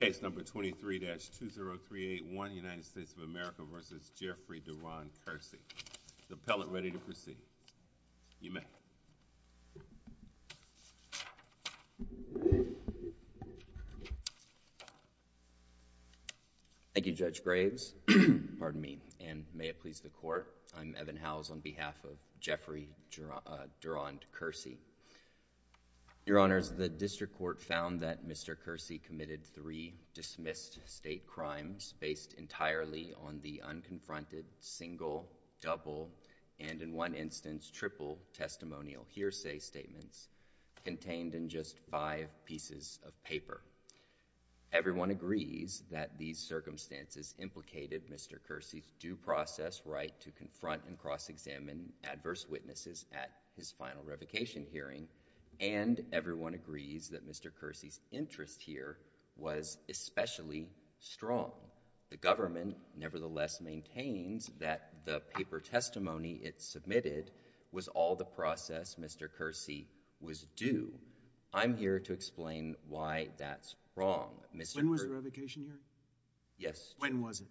Thank you Judge Graves, pardon me, and may it please the Court, I'm Evan Howes on behalf of Jeffrey Durand Kersee. Your Honors, the District Court found that Mr. Kersee committed three dismissed state crimes based entirely on the unconfronted, single, double, and in one instance triple testimonial hearsay statements contained in just five pieces of paper. Everyone agrees that these circumstances implicated Mr. Kersee's due process right to confront and cross-examine adverse witnesses at his final revocation hearing, and everyone agrees that Mr. Kersee's interest here was especially strong. The government nevertheless maintains that the paper testimony it submitted was all the process Mr. Kersee was due. I'm here to explain why that's wrong. When was the revocation hearing? Yes, Judge. When was it?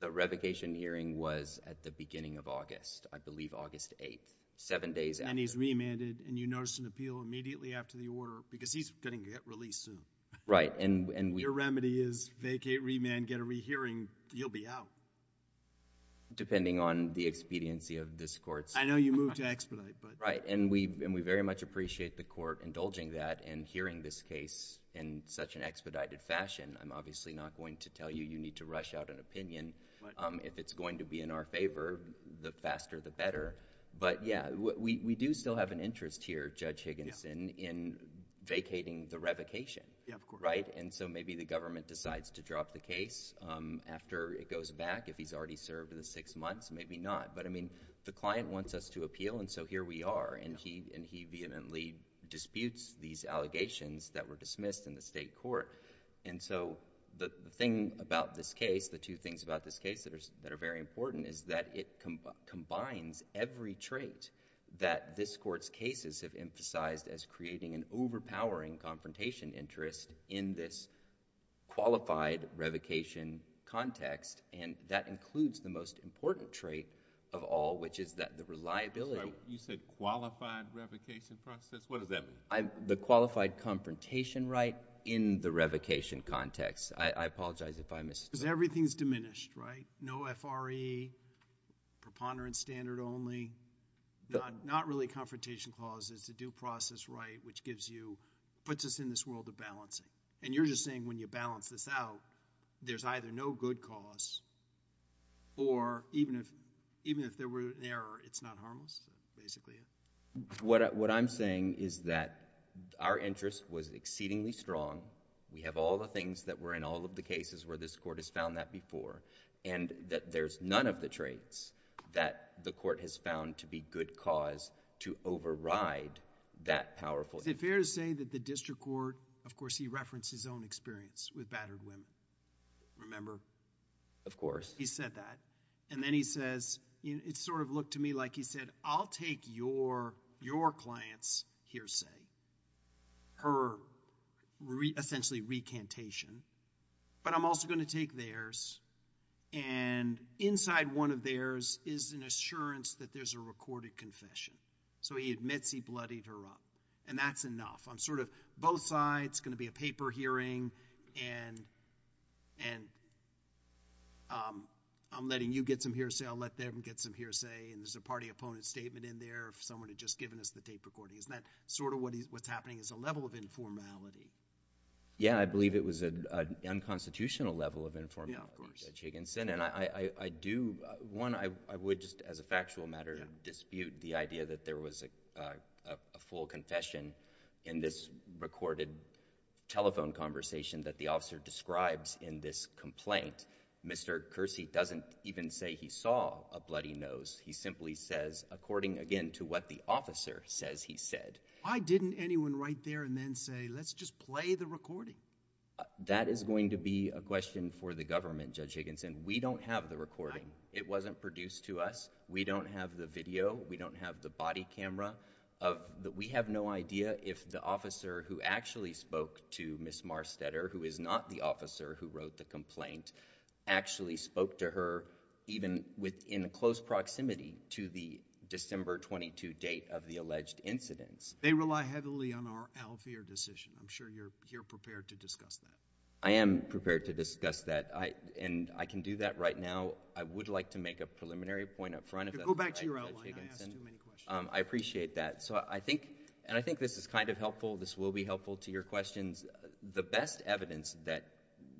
The revocation hearing was at the beginning of August, I believe August 8th, seven days after. And he's remanded and you noticed an appeal immediately after the order because he's going to get released soon. Right. If your remedy is vacate, remand, get a re-hearing, you'll be out. Depending on the expediency of this Court's I know you moved to expedite but Right, and we very much appreciate the Court indulging that and hearing this case in such an expedited fashion. I'm obviously not going to tell you you need to rush out an opinion. If it's going to be in our favor, the faster the better. But yeah, we do still have an interest here, Judge Higginson, in vacating the revocation. Yeah, of course. Right? And so maybe the government decides to drop the case after it goes back if he's already served the six months, maybe not. But I mean, the client wants us to appeal and so here we are. And he vehemently disputes these allegations that were dismissed in the State Court. And so the thing about this case, the two things about this case that are very important is that it combines every trait that this Court's cases have emphasized as creating an overpowering confrontation interest in this qualified revocation context and that includes the most important trait of all, which is that the reliability You said qualified revocation process? What does that mean? The qualified confrontation right in the revocation context. I apologize if I missed Because everything's diminished, right? No F.R.E., preponderance standard only, not really confrontation clauses. It's a due process right, which gives you, puts us in this world of balancing. And you're just saying when you balance this out, there's either no good cause or even if there were an error, it's not harmless, basically? What I'm saying is that our interest was exceedingly strong. We have all the things that were in all of the cases where this Court has found that before. And that there's none of the traits that the Court has found to be good cause to override that powerful interest. Is it fair to say that the District Court, of course he referenced his own experience with battered women, remember? Of course. He said that. And then he says, it sort of looked to me like he said, I'll take your client's hearsay, her essentially recantation, but I'm also going to take theirs. And inside one of theirs is an assurance that there's a recorded confession. So he admits he bloodied her up. And that's enough. I'm sort of both sides, it's going to be a paper hearing, and I'm letting you get some hearsay, I'll let them get some hearsay, and there's a party opponent statement in there, someone had just given us the tape recording. Isn't that sort of what's happening is a level of informality? Yeah, I believe it was an unconstitutional case. Judge Higginson, and I do, one, I would just as a factual matter dispute the idea that there was a full confession in this recorded telephone conversation that the officer describes in this complaint. Mr. Kersey doesn't even say he saw a bloody nose, he simply says according again to what the officer says he said. Why didn't anyone write there and then say let's just play the recording? That is going to be a question for the government, Judge Higginson. We don't have the recording. It wasn't produced to us. We don't have the video. We don't have the body camera. We have no idea if the officer who actually spoke to Ms. Marstetter, who is not the officer who wrote the complaint, actually spoke to her even within close proximity to the December 22 date of the alleged incidents. They rely heavily on our Alvere decision, I'm sure you're prepared to discuss that. I am prepared to discuss that, and I can do that right now. I would like to make a preliminary point up front. Go back to your outline, I asked too many questions. I appreciate that. So I think, and I think this is kind of helpful, this will be helpful to your questions. The best evidence that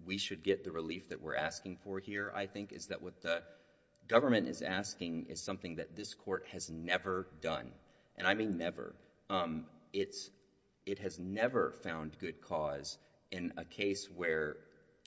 we should get the relief that we're asking for here, I think, is that what the government is asking is something that this Court has never done, and I mean never. It's, it has never found good cause in a case where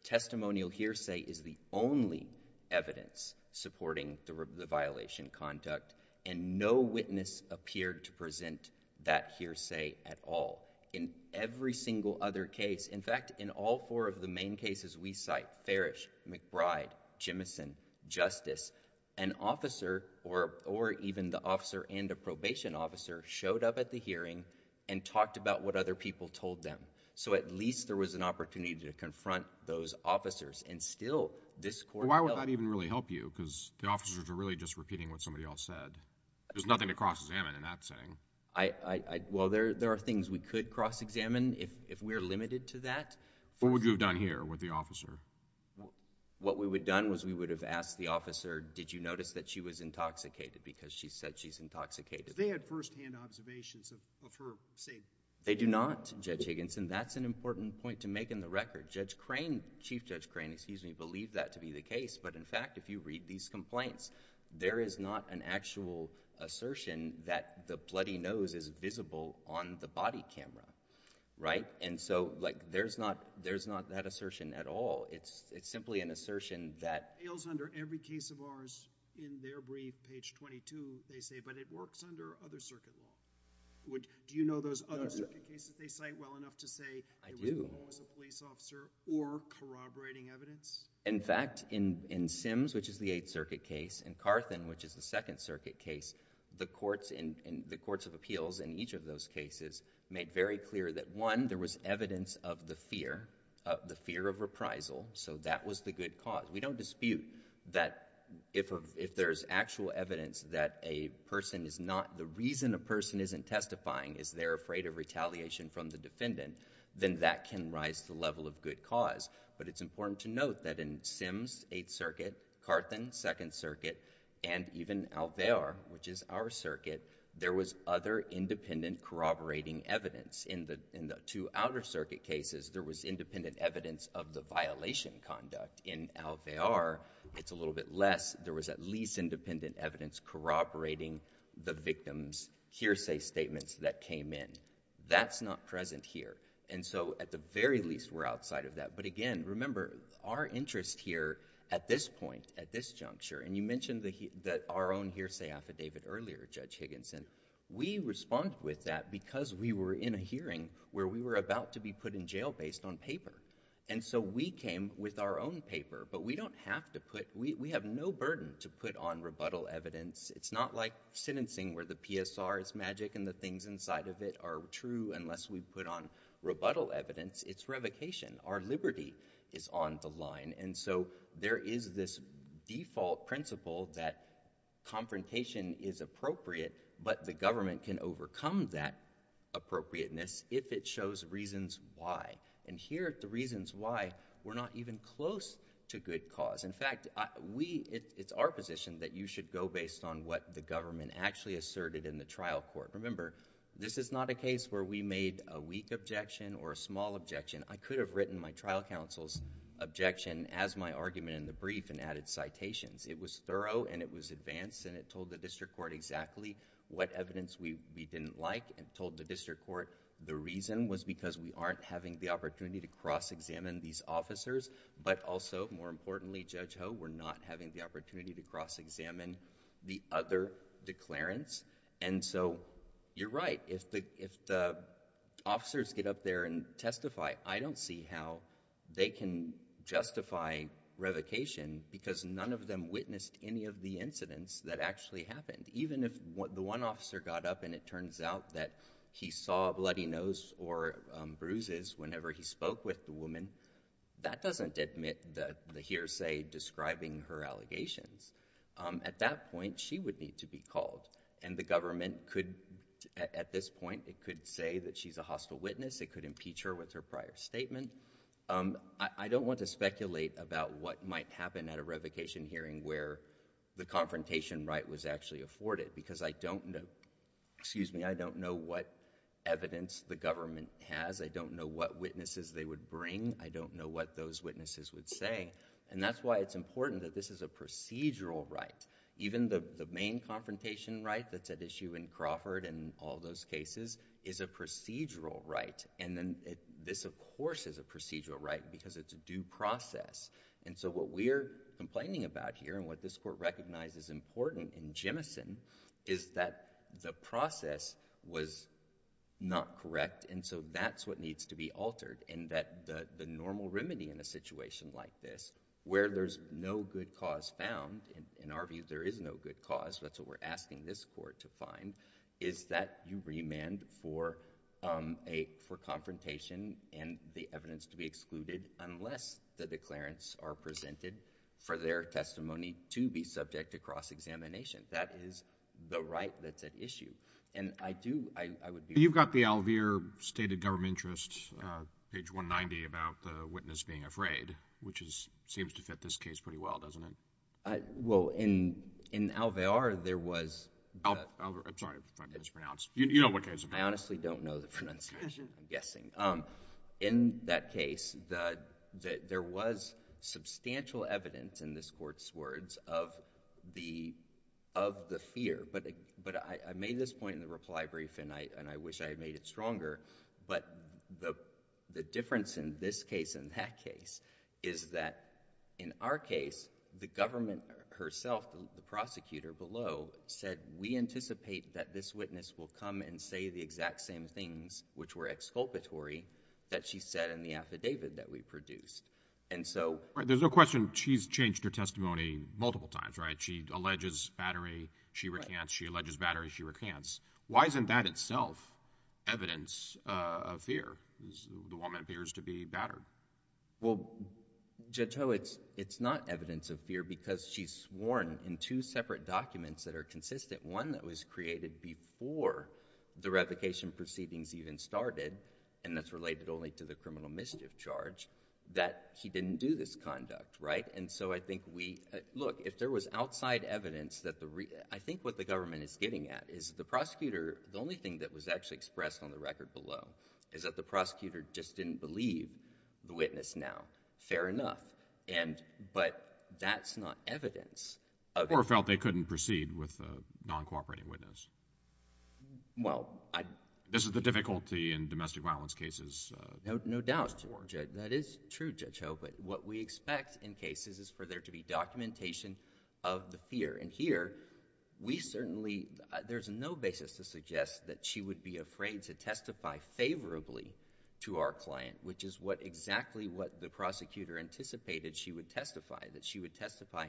testimonial hearsay is the only evidence supporting the violation conduct, and no witness appeared to present that hearsay at all. In every single other case, in fact, in all four of the main cases we cite, Farish, McBride, Jimison, Justice, an officer or a even the officer and a probation officer showed up at the hearing and talked about what other people told them. So at least there was an opportunity to confront those officers, and still, this Court held... Why would that even really help you? Because the officers are really just repeating what somebody else said. There's nothing to cross-examine in that setting. I, I, I, well there, there are things we could cross-examine if, if we're limited to that. What would you have done here with the officer? What we would have done was we would have asked the officer, did you notice that she was intoxicated, because she said she's intoxicated. They had first-hand observations of, of her saying... They do not, Judge Higginson. That's an important point to make in the record. Judge Crane, Chief Judge Crane, excuse me, believed that to be the case, but in fact, if you read these complaints, there is not an actual assertion that the bloody nose is visible on the body camera, right? And so, like, there's not, there's not that assertion at all. It's, it's simply an assertion that... It fails under every case of ours. In their brief, page 22, they say, but it works under other circuit law. Would, do you know those other circuit cases they cite well enough to say... I do.... it was a police officer or corroborating evidence? In fact, in, in Sims, which is the Eighth Circuit case, and Carthen, which is the Second made very clear that, one, there was evidence of the fear, of the fear of reprisal, so that was the good cause. We don't dispute that if a, if there's actual evidence that a person is not, the reason a person isn't testifying is they're afraid of retaliation from the defendant, then that can rise to the level of good cause. But it's important to note that in Sims, Eighth Circuit, Carthen, Second Circuit, and even Alvear, which is our circuit, there was other independent corroborating evidence. In the, in the two outer circuit cases, there was independent evidence of the violation conduct. In Alvear, it's a little bit less. There was at least independent evidence corroborating the victim's hearsay statements that came in. That's not present here. And so, at the very least, we're outside of that. But again, remember, our interest here, at this point, at this juncture, and you mentioned the, that our own hearsay affidavit earlier, Judge Higginson, we responded with that because we were in a hearing where we were about to be put in jail based on paper. And so we came with our own paper, but we don't have to put, we, we have no burden to put on rebuttal evidence. It's not like sentencing where the PSR is magic and the things inside of it are true unless we put on rebuttal evidence. It's revocation. Our liberty is on the line. And so there is this default principle that confrontation is appropriate, but the government can overcome that appropriateness if it shows reasons why. And here, the reasons why, we're not even close to good cause. In fact, we, it's our position that you should go based on what the government actually asserted in the trial court. Remember, this is not a case where we made a weak objection or a small objection. I could have written my trial counsel's objection as my argument in the brief and added citations. It was thorough and it was advanced and it told the district court exactly what evidence we, we didn't like and told the district court the reason was because we aren't having the opportunity to cross-examine these officers, but also, more importantly, Judge Ho, we're not having the opportunity to cross-examine the other declarants. And so, you're right. If the, if the officers get up there and testify, I don't see how they can justify revocation because none of them witnessed any of the incidents that actually happened. Even if the one officer got up and it turns out that he saw a bloody nose or bruises whenever he spoke with the woman, that doesn't admit the hearsay describing her allegations. At that point, she would need to be called. And the government could, at this point, it could say that she's a hostile witness. It could make a prior statement. I don't want to speculate about what might happen at a revocation hearing where the confrontation right was actually afforded because I don't know, excuse me, I don't know what evidence the government has. I don't know what witnesses they would bring. I don't know what those witnesses would say. And that's why it's important that this is a procedural right. Even the, the main confrontation right that's at issue in Crawford and all those cases is a procedural right. And then this of course is a procedural right because it's a due process. And so what we're complaining about here and what this court recognizes important in Jemison is that the process was not correct. And so that's what needs to be altered. And that the, the normal remedy in a situation like this where there's no good cause found, in our view there is no good cause, that's what we're asking this court to find, is that you remand for a, for confrontation and the evidence to be excluded unless the declarants are presented for their testimony to be subject to cross-examination. That is the right that's at issue. And I do, I, I would be. You've got the Alvear stated government interests, page 190 about the witness being afraid, which is, seems to fit this case pretty well, doesn't it? I, well, in, in Alvear there was. Alvear, I'm sorry if I mispronounced. You know what case it is. I honestly don't know the pronunciation, I'm guessing. In that case, the, there was substantial evidence in this court's words of the, of the fear. But, but I, I made this point in the reply brief and I, and I wish I had made it stronger. But the, the difference in this case and that case is that in our case, the government herself, the, the prosecutor below said we anticipate that this witness will come and say the exact same things, which were exculpatory, that she said in the affidavit that we produced. And so. Right, there's no question she's changed her testimony multiple times, right? She alleges battery, she recants. She alleges battery, she recants. Why isn't that itself evidence of fear? The woman appears to be battered. Well, Judge Ho, it's, it's not evidence of fear because she's sworn in two separate documents that are consistent. One that was created before the revocation proceedings even started, and that's related only to the criminal mischief charge, that he didn't do this conduct, right? And so I think we, look, if there was outside evidence that the, I think what the government is getting at is the prosecutor, the only thing that was actually expressed on the record below is that the prosecutor just didn't believe the witness now. Fair enough. And, but that's not evidence of. Or felt they couldn't proceed with a non-cooperating witness. Well, I. This is the difficulty in domestic violence cases. No doubt. That is true, Judge Ho, but what we expect in cases is for there to be documentation of the fear. And here, we certainly, there's no basis to suggest that she would be afraid to testify favorably to our client, which is what, exactly what the prosecutor anticipated she would testify, that she would testify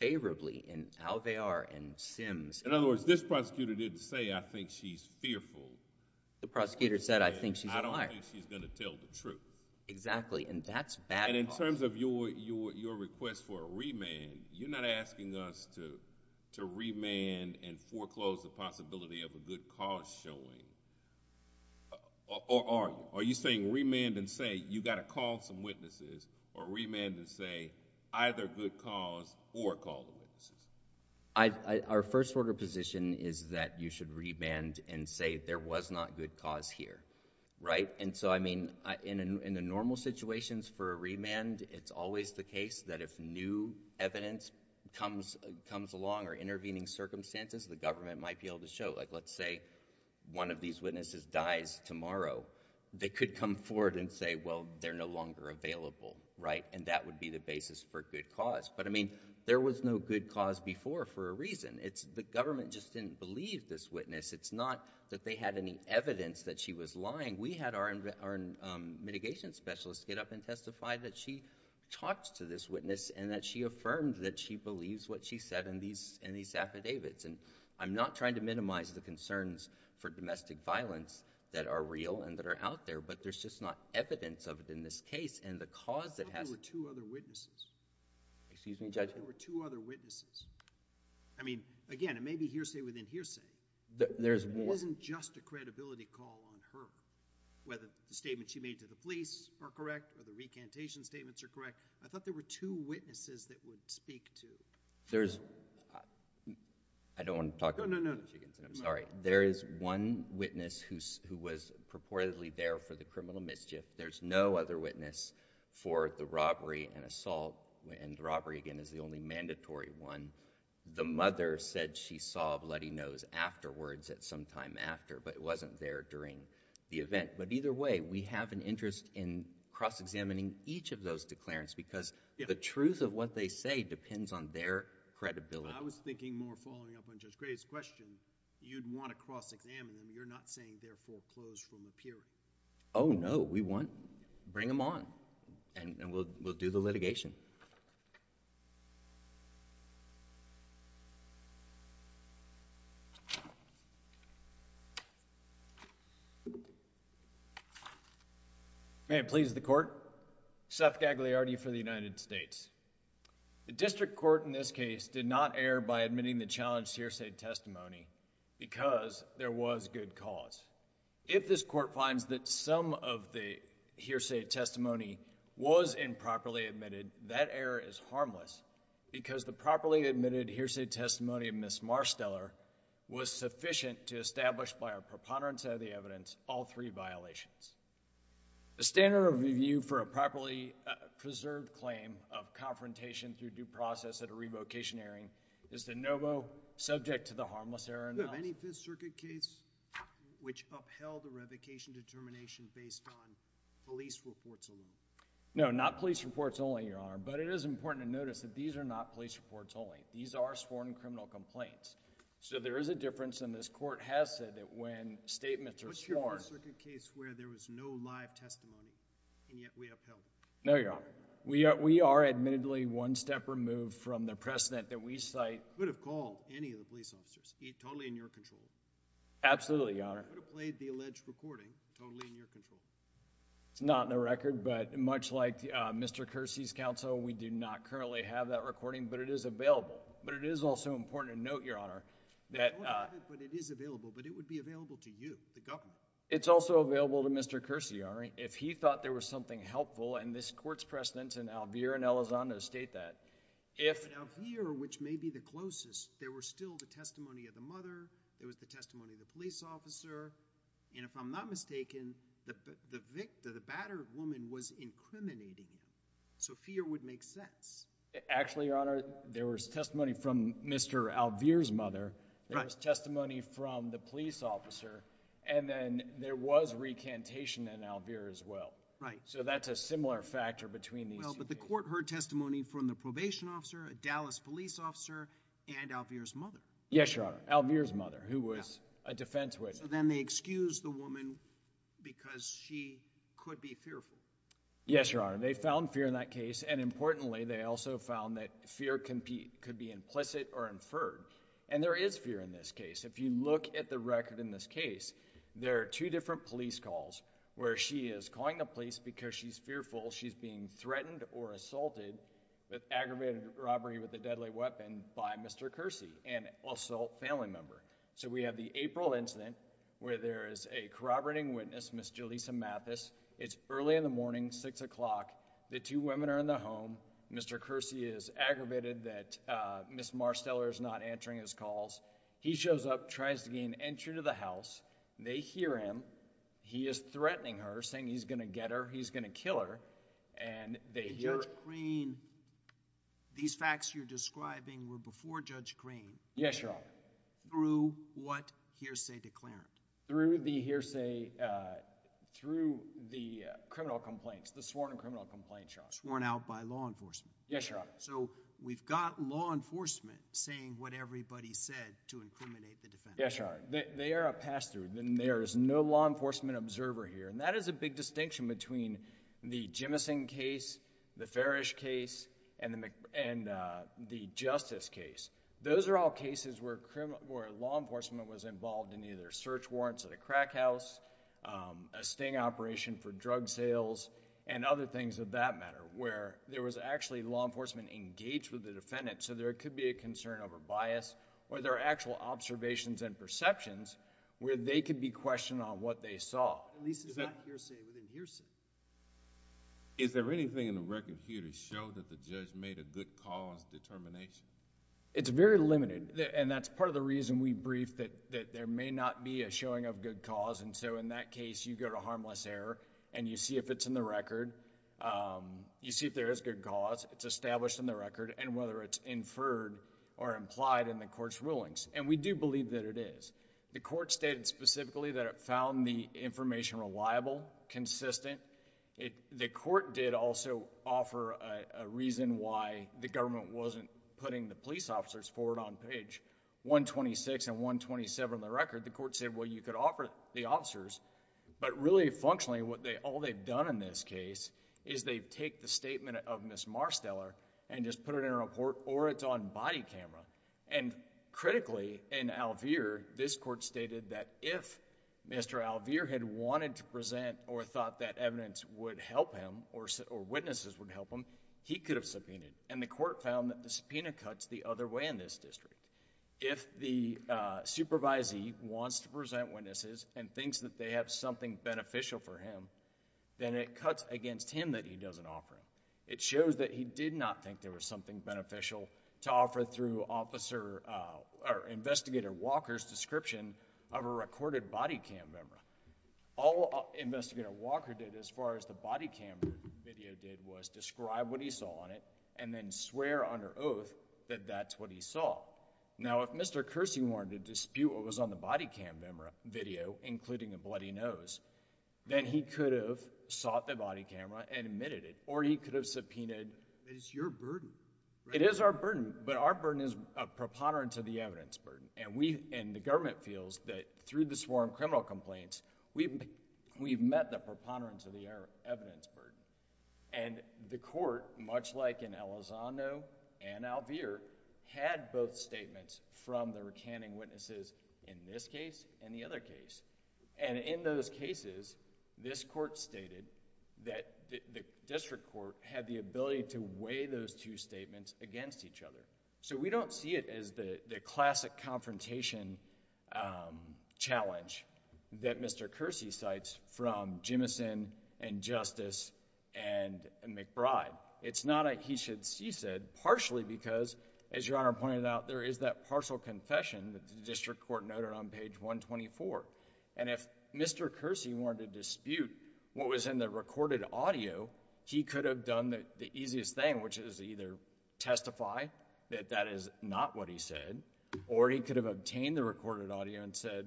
favorably in how they are in Sims. In other words, this prosecutor didn't say, I think she's fearful. The prosecutor said, I think she's a liar. I don't think she's going to tell the truth. Exactly, and that's bad. And in terms of your, your, your request for a remand, you're not asking us to, to remand and foreclose the possibility of a good cause showing, or are you? Are you saying remand and say, you've got to call some witnesses, or remand and say either good cause or call the witnesses? Our first order of position is that you should remand and say there was not good cause here, right? And so, I mean, in a, in a normal situations for a remand, it's always the case that if new evidence comes, comes along or intervening circumstances, the government might be able to show. Like, let's say one of these witnesses dies tomorrow. They could come forward and say, well, they're no longer available, right? And that would be the basis for good cause. But, I mean, there was no good cause before for a reason. It's the government just didn't believe this witness. It's not that they had any evidence that she was lying. We had our, our mitigation specialist get up and testify that she talked to this witness and that she affirmed that she believes what she said in these, in these affidavits. And I'm not trying to minimize the concerns for domestic violence that are real and that are out there. But there's just not evidence of it in this case. And the cause that has... I thought there were two other witnesses. Excuse me, Judge? I thought there were two other witnesses. I mean, again, it may be hearsay within hearsay. There's more... It wasn't just a credibility call on her. Whether the statement she made to the police are correct or the recantation statements are correct. I thought there were two witnesses. I thought there were two witnesses that would speak to... There's... I don't want to talk... No, no, no. I'm sorry. There is one witness who, who was purportedly there for the criminal mischief. There's no other witness for the robbery and assault. And the robbery, again, is the only mandatory one. The mother said she saw a bloody nose afterwards at some time after, but it wasn't there during the event. But either way, we have an interest in cross-examining each of those declarants because... Yeah. The truth of what they say depends on their credibility. I was thinking more following up on Judge Gray's question, you'd want to cross-examine them. You're not saying they're foreclosed from appearing. Oh, no. We want... bring them on and we'll do the litigation. May it please the Court. Thank you. Thank you. Thank you. Thank you. Thank you. Thank you. Thank you. Thank you. Thank you. Thank you. Thank you. The district court in this case did not err by admitting the challenged hearsay testimony because there was good cause. If this Court finds that some of the hearsay testimony was improperly admitted, that error is harmless because the properly-admitted hearsay testimony of Ms. Marsteller was sufficient to establish by our preponderance of the evidence, all three violations. The standard of review for a properly preserved claim of confrontation through due process at a revocation hearing is the NOVO subject to the harmless error. Do you have any Fifth Circuit case which upheld a revocation determination based on police reports alone? No, not police reports only, Your Honor, but it is important to notice that these are not police reports only. These are sworn criminal complaints. So there is a difference, and this Court has said that when statements are sworn This is a Fifth Circuit case where there was no live testimony, and yet we upheld it. No, Your Honor. We are admittedly one step removed from the precedent that we cite. You could have called any of the police officers, totally in your control. Absolutely, Your Honor. You could have played the alleged recording, totally in your control. It's not in the record, but much like Mr. Kersey's counsel, we do not currently have that recording, but it is available. But it is also important to note, Your Honor, that it would be available to you, the government. It's also available to Mr. Kersey, Your Honor. If he thought there was something helpful, and this Court's precedents in Alvear and Elizondo state that. But Alvear, which may be the closest, there was still the testimony of the mother. There was the testimony of the police officer. And if I'm not mistaken, the battered woman was incriminating him. So fear would make sense. Actually, Your Honor, there was testimony from Mr. Alvear's mother. There was testimony from the police officer. And then there was recantation in Alvear as well. Right. So that's a similar factor between these two cases. Well, but the Court heard testimony from the probation officer, a Dallas police officer, and Alvear's mother. Yes, Your Honor. Alvear's mother, who was a defense witness. So then they excused the woman because she could be fearful. Yes, Your Honor. They found fear in that case. And importantly, they also found that fear could be implicit or inferred. And there is fear in this case. If you look at the record in this case, there are two different police calls where she is calling the police because she's fearful she's being threatened or assaulted with aggravated robbery with a deadly weapon by Mr. Kersey, an assault family member. So we have the April incident where there is a corroborating witness, Ms. Jaleesa Mathis. It's early in the morning, 6 o'clock. The two women are in the home. Mr. Kersey is aggravated that Ms. Marsteller is not answering his calls. He shows up, tries to gain entry to the house. They hear him. He is threatening her, saying he's going to get her, he's going to kill her. And they hear— Judge Green, these facts you're describing were before Judge Green. Yes, Your Honor. Through what hearsay declarant? Yes, Your Honor. Yes, Your Honor. where there was actually law enforcement engaged with the defendant. So there could be a concern over bias, or there are actual observations and perceptions where they could be questioned on what they saw. At least, is that hearsay within hearsay? Is there anything in the record here to show that the judge made a good cause determination? It's very limited, and that's part of the reason we briefed that there may not be a showing of good cause. And so in that case, you go to harmless error, and you see if it's in the record. You see if there is good cause. It's established in the record, and whether it's inferred or implied in the court's rulings. And we do believe that it is. The court stated specifically that it found the information reliable, consistent. The court did also offer a reason why the government wasn't putting the police officers forward on page 126 and 127 of the record. The court said, well, you could offer the officers, but really functionally, all they've done in this case is they've take the statement of Ms. Marsteller and just put it in a report, or it's on body camera. And critically, in Alvere, this court stated that if Mr. Alvere had wanted to present or thought that evidence would help him, or witnesses would help him, he could have subpoenaed. And the court found that the subpoena cuts the other way in this district. If the supervisee wants to present witnesses and thinks that they have something beneficial for him, then it cuts against him that he doesn't offer them. It shows that he did not think there was something beneficial to offer through Investigator Walker's description of a recorded body cam memory. All Investigator Walker did as far as the body cam video did was describe what he saw on it and then swear under oath that that's what he saw. Now, if Mr. Kersey wanted to dispute what was on the body cam video, including a bloody nose, then he could have sought the body camera and admitted it, or he could have subpoenaed. But it's your burden. It is our burden, but our burden is a preponderance of the evidence burden. And we, and the government feels that through the sworn criminal complaints, we've met the preponderance of the evidence burden. And the court, much like in Elizondo and Alvere, had both statements from the recanting witnesses in this case and the other case. And in those cases, this court stated that the district court had the ability to weigh those two statements against each other. So we don't see it as the classic confrontation challenge that Mr. Kersey cites from Jimmison and Justice and McBride. It's not a he-should-see-said, partially because, as Your Honor pointed out, there is that partial confession that the district court noted on page 124. And if Mr. Kersey wanted to dispute what was in the recorded audio, he could have done the easiest thing, which is either testify that that is not what he said, or he could have obtained the recorded audio and said,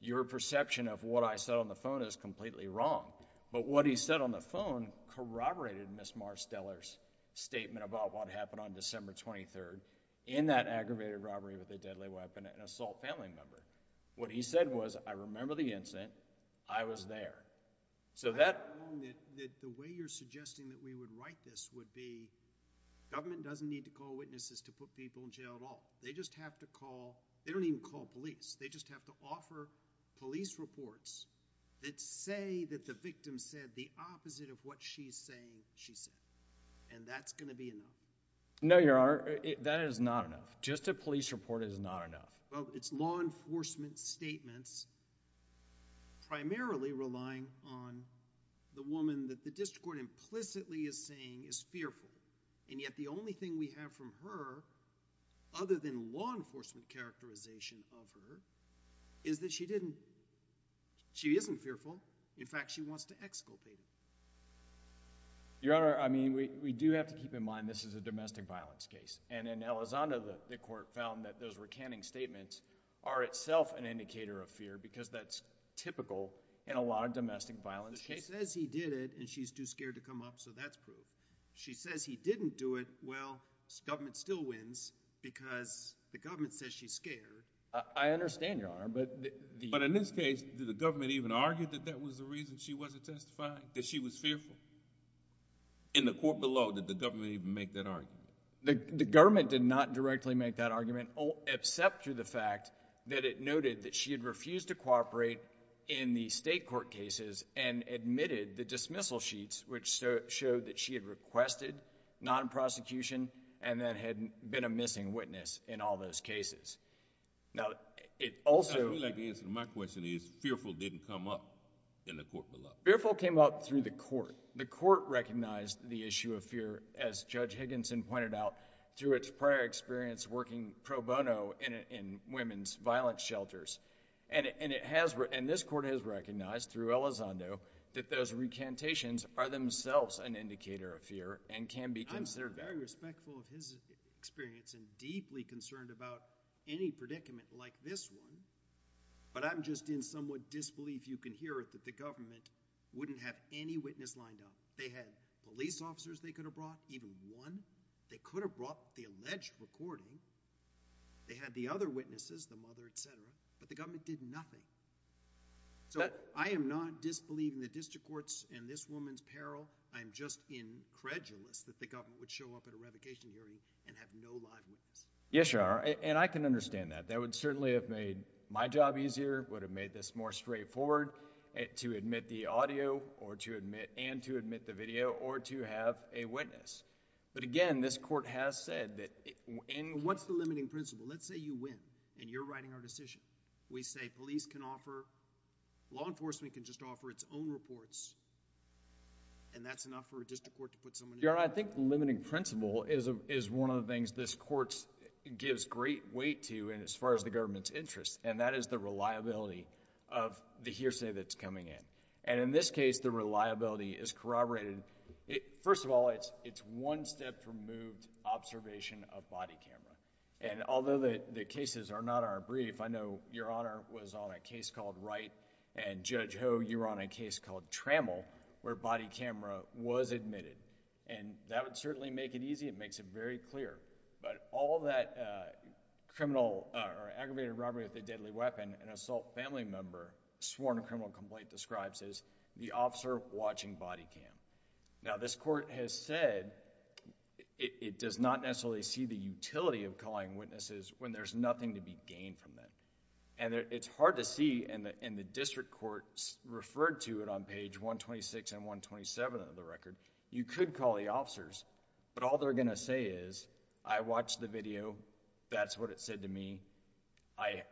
your perception of what I said on the phone is completely wrong. But what he said on the phone corroborated Ms. Marsteller's statement about what happened on December 23rd in that aggravated robbery with a deadly weapon and assault family member. What he said was, I remember the incident. I was there. So that... I don't know that the way you're suggesting that we would write this would be, government doesn't need to call witnesses to put people in jail at all. They just have to call... they don't even call police. They just have to offer police reports that say that the victim said the opposite of what she's saying she said. And that's going to be enough. No, Your Honor. That is not enough. Just a police report is not enough. Well, it's law enforcement statements primarily relying on the woman that the district court implicitly is saying is fearful. And yet the only thing we have from her, other than law enforcement characterization of her, is that she didn't... she isn't fearful. In fact, she wants to exculpate him. Your Honor, I mean, we do have to keep in mind this is a domestic violence case. And in Elizondo, the court found that those recanting statements are itself an indicator of fear because that's typical in a lot of domestic violence cases. She says he did it, and she's too scared to come up, so that's proof. She says he didn't do it. Well, government still wins because the government says she's scared. I understand, Your Honor, but... But in this case, did the government even argue that that was the reason she wasn't testifying, that she was fearful? In the court below, did the government even make that argument? The government did not directly make that argument, except through the fact that it noted that she had refused to cooperate in the state court cases and admitted the dismissal sheets, which showed that she had requested non-prosecution and that had been a missing witness in all those cases. Now, it also... I would like to answer. My question is fearful didn't come up in the court below. Fearful came up through the court. The court recognized the issue of fear, as Judge Higginson pointed out, through its prior experience working pro bono in women's violence shelters. And it has—and this court has recognized through Elizondo that those recantations are themselves an indicator of fear and can be considered that. I'm very respectful of his experience and deeply concerned about any predicament like this one, but I'm just in somewhat disbelief, you can hear it, that the government wouldn't have any witness lined up. They had police officers they could have brought, even one. They could have brought the alleged recording. They had the other witnesses, the mother, et cetera, but the government did nothing. So I am not disbelieving the district courts and this woman's peril. I am just incredulous that the government would show up at a revocation hearing and have no live witness. Yes, Your Honor, and I can understand that. That would certainly have made my job easier, would have made this more straightforward to admit the audio or to admit—and to admit the video or to have a witness. But again, this court has said that— And what's the limiting principle? Let's say you win and you're writing our decision. We say police can offer—law enforcement can just offer its own reports and that's enough for a district court to put someone in jail. Your Honor, I think the limiting principle is one of the things this court gives great weight to and as far as the government's interest, and that is the reliability of the hearsay that's coming in. And in this case, the reliability is corroborated. First of all, it's one step from moved observation of body camera. And although the cases are not our brief, I know, Your Honor, was on a case called Wright and Judge Ho, you were on a case called Trammell where body camera was admitted. And that would certainly make it easy. It makes it very clear. But all that criminal or aggravated robbery with a deadly weapon, an assault family member, sworn criminal complaint describes as the officer watching body cam. Now, this court has said it does not necessarily see the utility of calling witnesses when there's nothing to be gained from that. And it's hard to see in the district courts referred to it on page 126 and 127 of the record. You could call the officers, but all they're going to say is I watched the video. That's what it said to me. I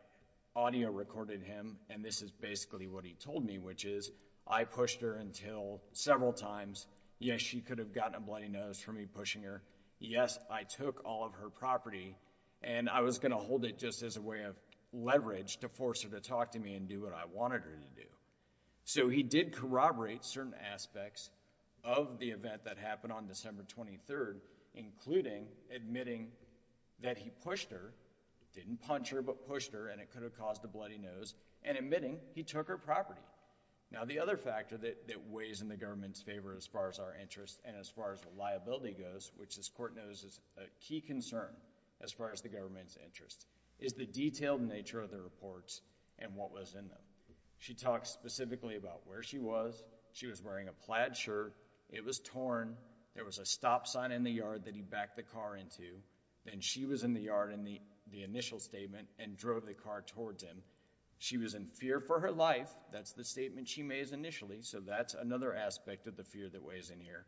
audio recorded him, and this is basically what he told me, which is I pushed her until several times. Yes, she could have gotten a bloody nose from me pushing her. Yes, I took all of her property, and I was going to hold it just as a way of leverage to force her to talk to me and do what I wanted her to do. So he did corroborate certain aspects of the event that happened on December 23rd, including admitting that he pushed her, didn't punch her, but pushed her, and it could have caused a bloody nose, and admitting he took her property. Now, the other factor that weighs in the government's favor as far as our interests and as far as reliability goes, which this court knows is a key concern as far as the government's interest, is the detailed nature of the reports and what was in them. She talks specifically about where she was. She was wearing a plaid shirt. It was torn. There was a stop sign in the yard that he backed the car into. Then she was in the yard in the initial statement and drove the car towards him. She was in fear for her life. That's the statement she made initially, so that's another aspect of the fear that weighs in here.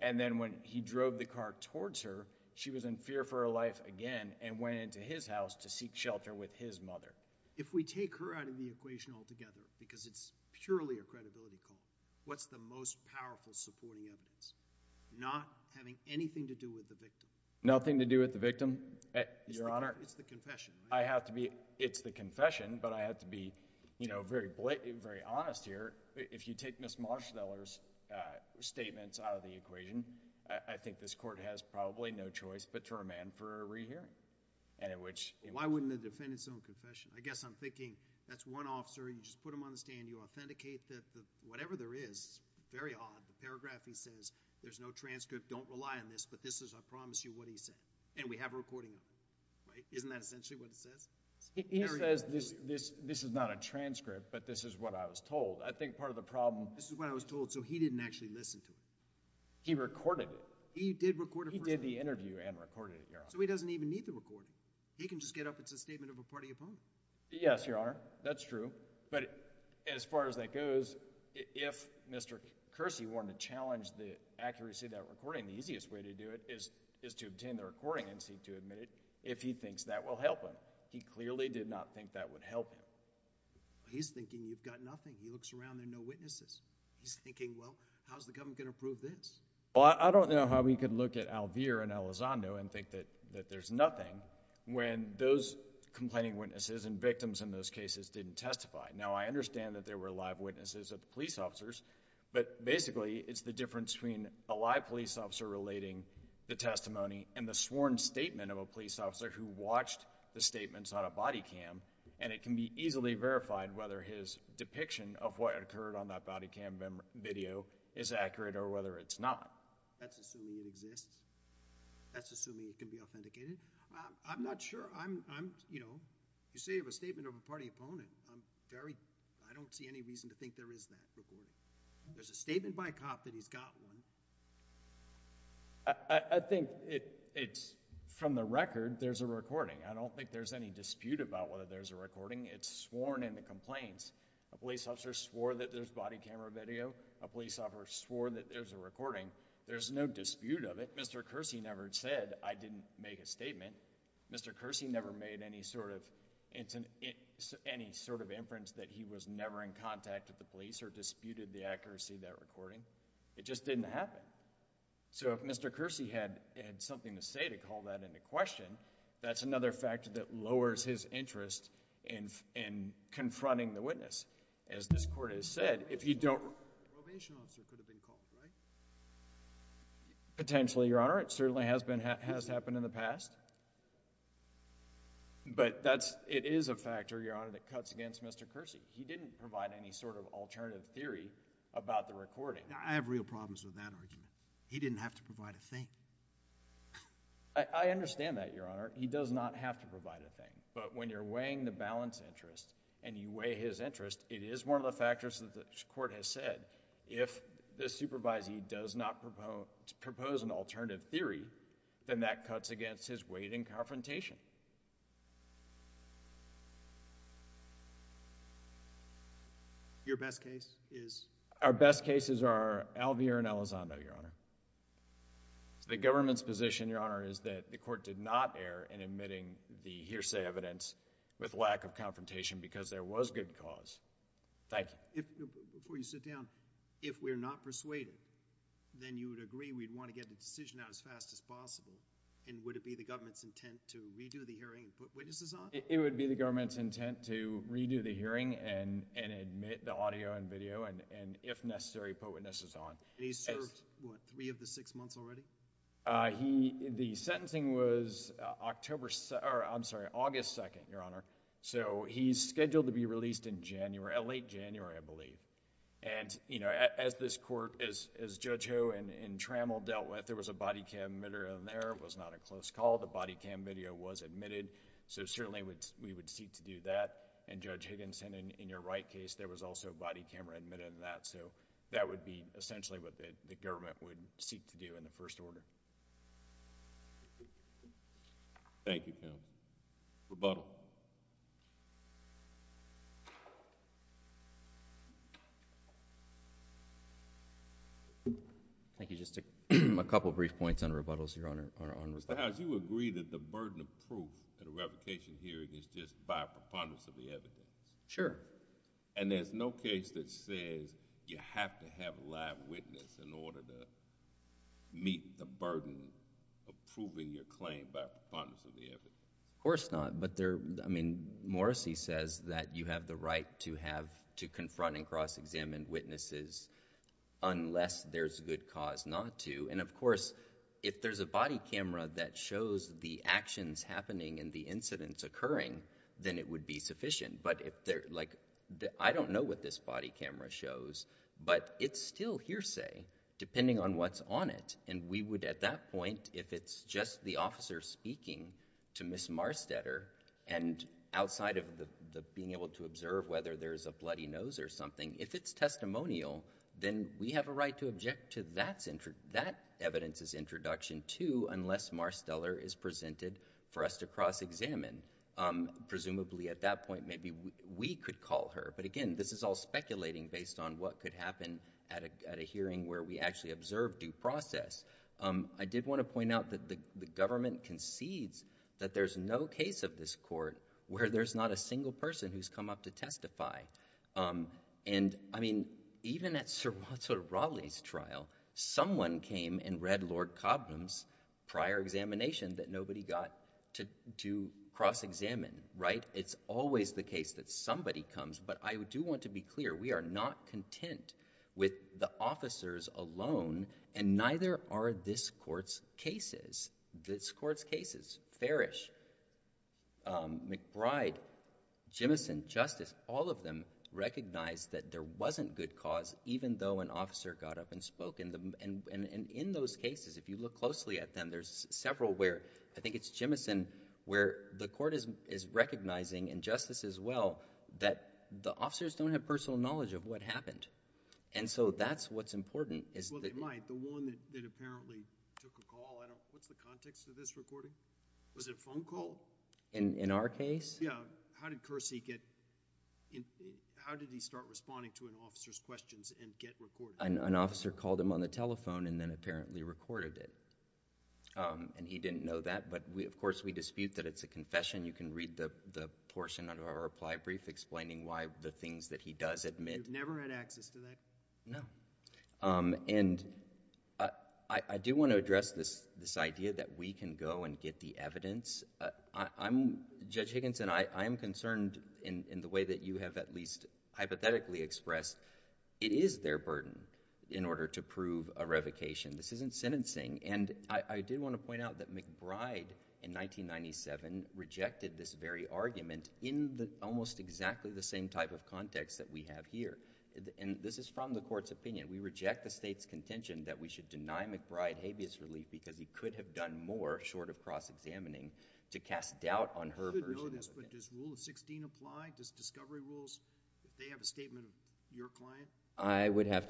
And then when he drove the car towards her, she was in fear for her life again and went into his house to seek shelter with his mother. If we take her out of the equation altogether because it's purely a credibility call, what's the most powerful supporting evidence? Not having anything to do with the victim. Nothing to do with the victim, Your Honor. It's the confession, right? It's the confession, but I have to be very honest here. If you take Ms. Marsteller's statements out of the equation, I think this court has probably no choice but to remand for a rehearing. Why wouldn't the defendant's own confession? I guess I'm thinking that's one officer. You just put him on the stand. You authenticate whatever there is. It's very odd. The paragraph he says, there's no transcript. Don't rely on this, but this is, I promise you, what he said. And we have a recording of it, right? Isn't that essentially what it says? He says this is not a transcript, but this is what I was told. I think part of the problem— This is what I was told, so he didn't actually listen to it. He recorded it. He did record it personally. He did the interview and recorded it, Your Honor. So he doesn't even need the recording. He can just get up. It's a statement of a party opponent. Yes, Your Honor. That's true. But as far as that goes, if Mr. Kersey wanted to challenge the accuracy of that recording, the easiest way to do it is to obtain the recording and seek to admit it if he thinks that will help him. He clearly did not think that would help him. He's thinking you've got nothing. He looks around, there are no witnesses. He's thinking, well, how's the government going to prove this? Well, I don't know how we could look at Alvere and Elizondo and think that there's nothing when those complaining witnesses and victims in those cases didn't testify. Now, I understand that there were live witnesses of the police officers, but basically it's the difference between a live police officer relating the testimony and the sworn statement of a police officer who watched the statements on a body cam, and it can be easily verified whether his depiction of what occurred on that body cam video is accurate or whether it's not. That's assuming it exists? That's assuming it can be authenticated? I'm not sure. I'm, you know, you say you have a statement of a party opponent. I'm very, I don't see any reason to think there is that recording. There's a statement by a cop that he's got one. I think it's, from the record, there's a recording. I don't think there's any dispute about whether there's a recording. It's sworn in the complaints. A police officer swore that there's body camera video. A police officer swore that there's a recording. There's no dispute of it. Mr. Kersey never said, I didn't make a statement. Mr. Kersey never made any sort of inference that he was never in contact with the police or disputed the accuracy of that recording. It just didn't happen. So if Mr. Kersey had something to say to call that into question, that's another factor that lowers his interest in confronting the witness. As this Court has said, if you don't... A probation officer could have been called, right? Potentially, Your Honor. It certainly has happened in the past. But that's, it is a factor, Your Honor, that cuts against Mr. Kersey. He didn't provide any sort of alternative theory about the recording. I have real problems with that argument. He didn't have to provide a thing. I understand that, Your Honor. He does not have to provide a thing. But when you're weighing the balance interest and you weigh his interest, it is one of the factors that the Court has said, if the supervisee does not propose an alternative theory, then that cuts against his weight in confrontation. Your best case is? Our best cases are Alvear and Elizondo, Your Honor. The government's position, Your Honor, is that the Court did not err in admitting the hearsay evidence with lack of confrontation because there was good cause. Thank you. Before you sit down, if we're not persuaded, then you would agree we'd want to get the decision out as fast as possible, and would it be the government's intent to redo the hearing and put witnesses on? It would be the government's intent to redo the hearing and admit the audio and video and, if necessary, put witnesses on. And he's served, what, three of the six months already? The sentencing was August 2nd, Your Honor, so he's scheduled to be released in late January, I believe. And, you know, as this Court, as Judge Ho and Trammell dealt with, there was a body cam video in there. It was not a close call. The body cam video was admitted, so certainly we would seek to do that. And Judge Higginson, in your right case, there was also a body camera admitted in that, so that would be essentially what the government would seek to do in the first order. Thank you, counsel. Rebuttal. Thank you. Just a couple of brief points on rebuttals, Your Honor. Mr. Howes, you agree that the burden of proof in a revocation hearing is just by preponderance of the evidence? Sure. And there's no case that says you have to have a live witness in order to meet the burden of proving your claim by preponderance of the evidence? Of course not. But there, I mean, Morrissey says that you have the right to have, to confront and cross-examine witnesses unless there's a good cause not to. And, of course, if there's a body camera that shows the actions happening and the incidents occurring, then it would be sufficient. But, like, I don't know what this body camera shows, but it's still hearsay depending on what's on it. And we would, at that point, if it's just the officer speaking to Ms. Marstetter and outside of being able to observe whether there's a bloody nose or something, if it's testimonial, then we have a right to object to that evidence's introduction too unless Marsteller is presented for us to cross-examine. Presumably, at that point, maybe we could call her. But, again, this is all speculating based on what could happen at a hearing where we actually observe due process. I did want to point out that the government concedes that there's no case of this court where there's not a single person who's come up to testify. Now, someone came and read Lord Cobham's prior examination that nobody got to cross-examine, right? It's always the case that somebody comes, but I do want to be clear. We are not content with the officers alone, and neither are this court's cases. This court's cases, Farish, McBride, Jemison, Justice, all of them recognize that there wasn't good cause even though an officer got up and spoke. And in those cases, if you look closely at them, there's several where I think it's Jemison where the court is recognizing, and Justice as well, that the officers don't have personal knowledge of what happened. And so that's what's important. Well, they might. The one that apparently took a call, what's the context of this recording? Was it a phone call? In our case? Yeah. How did Kersey get in? How did he start responding to an officer's questions and get recorded? An officer called him on the telephone and then apparently recorded it, and he didn't know that. But, of course, we dispute that it's a confession. You can read the portion of our reply brief explaining why the things that he does admit. You've never had access to that? No. And I do want to address this idea that we can go and get the evidence. Judge Higginson, I am concerned in the way that you have at least hypothetically expressed it is their burden in order to prove a revocation. This isn't sentencing. And I do want to point out that McBride in 1997 rejected this very argument in almost exactly the same type of context that we have here. And this is from the court's opinion. We reject the state's contention that we should deny McBride habeas relief because he could have done more short of cross-examining to cast doubt on her version of it. I don't know this, but does Rule of 16 apply? Does Discovery Rules, if they have a statement of your client? I would have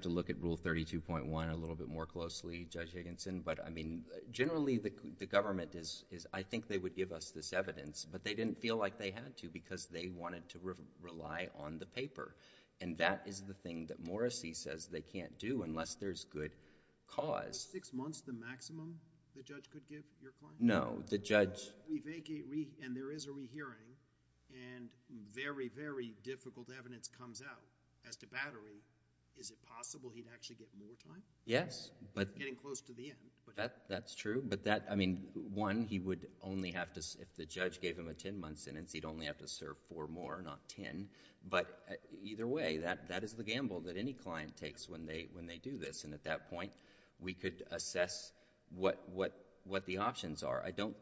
to look at Rule 32.1 a little bit more closely, Judge Higginson. But, I mean, generally the government is, I think they would give us this evidence. But they didn't feel like they had to because they wanted to rely on the paper. And that is the thing that Morrissey says they can't do unless there's good cause. Is six months the maximum the judge could give your client? No, the judge. And there is a rehearing, and very, very difficult evidence comes out as to battery. Is it possible he'd actually get more time? Yes. Getting close to the end. That's true. But, I mean, one, he would only have to, if the judge gave him a ten-month sentence, he'd only have to serve four more, not ten. But either way, that is the gamble that any client takes when they do this. And at that point, we could assess what the options are. I don't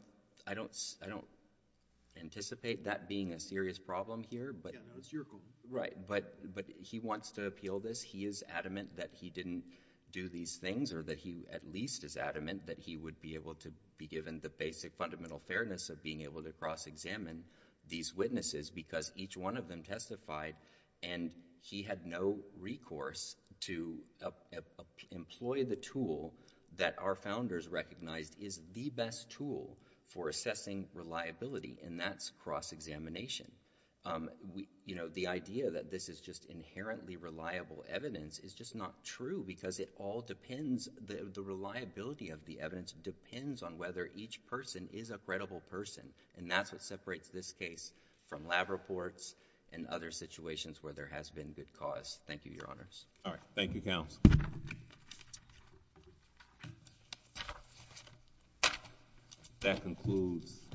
anticipate that being a serious problem here. Yeah, no, it's your call. Right. But he wants to appeal this. He is adamant that he didn't do these things or that he at least is adamant that he would be able to be given the basic fundamental fairness of being able to cross-examine these witnesses because each one of them testified and he had no recourse to employ the tool that our founders recognized is the best tool for assessing reliability, and that's cross-examination. You know, the idea that this is just inherently reliable evidence is just not true because it all depends, the reliability of the evidence depends on whether each person is a credible person, and that's what separates this case from lab reports and other situations where there has been good cause. Thank you, Your Honors. All right. Thank you, Counsel. That concludes.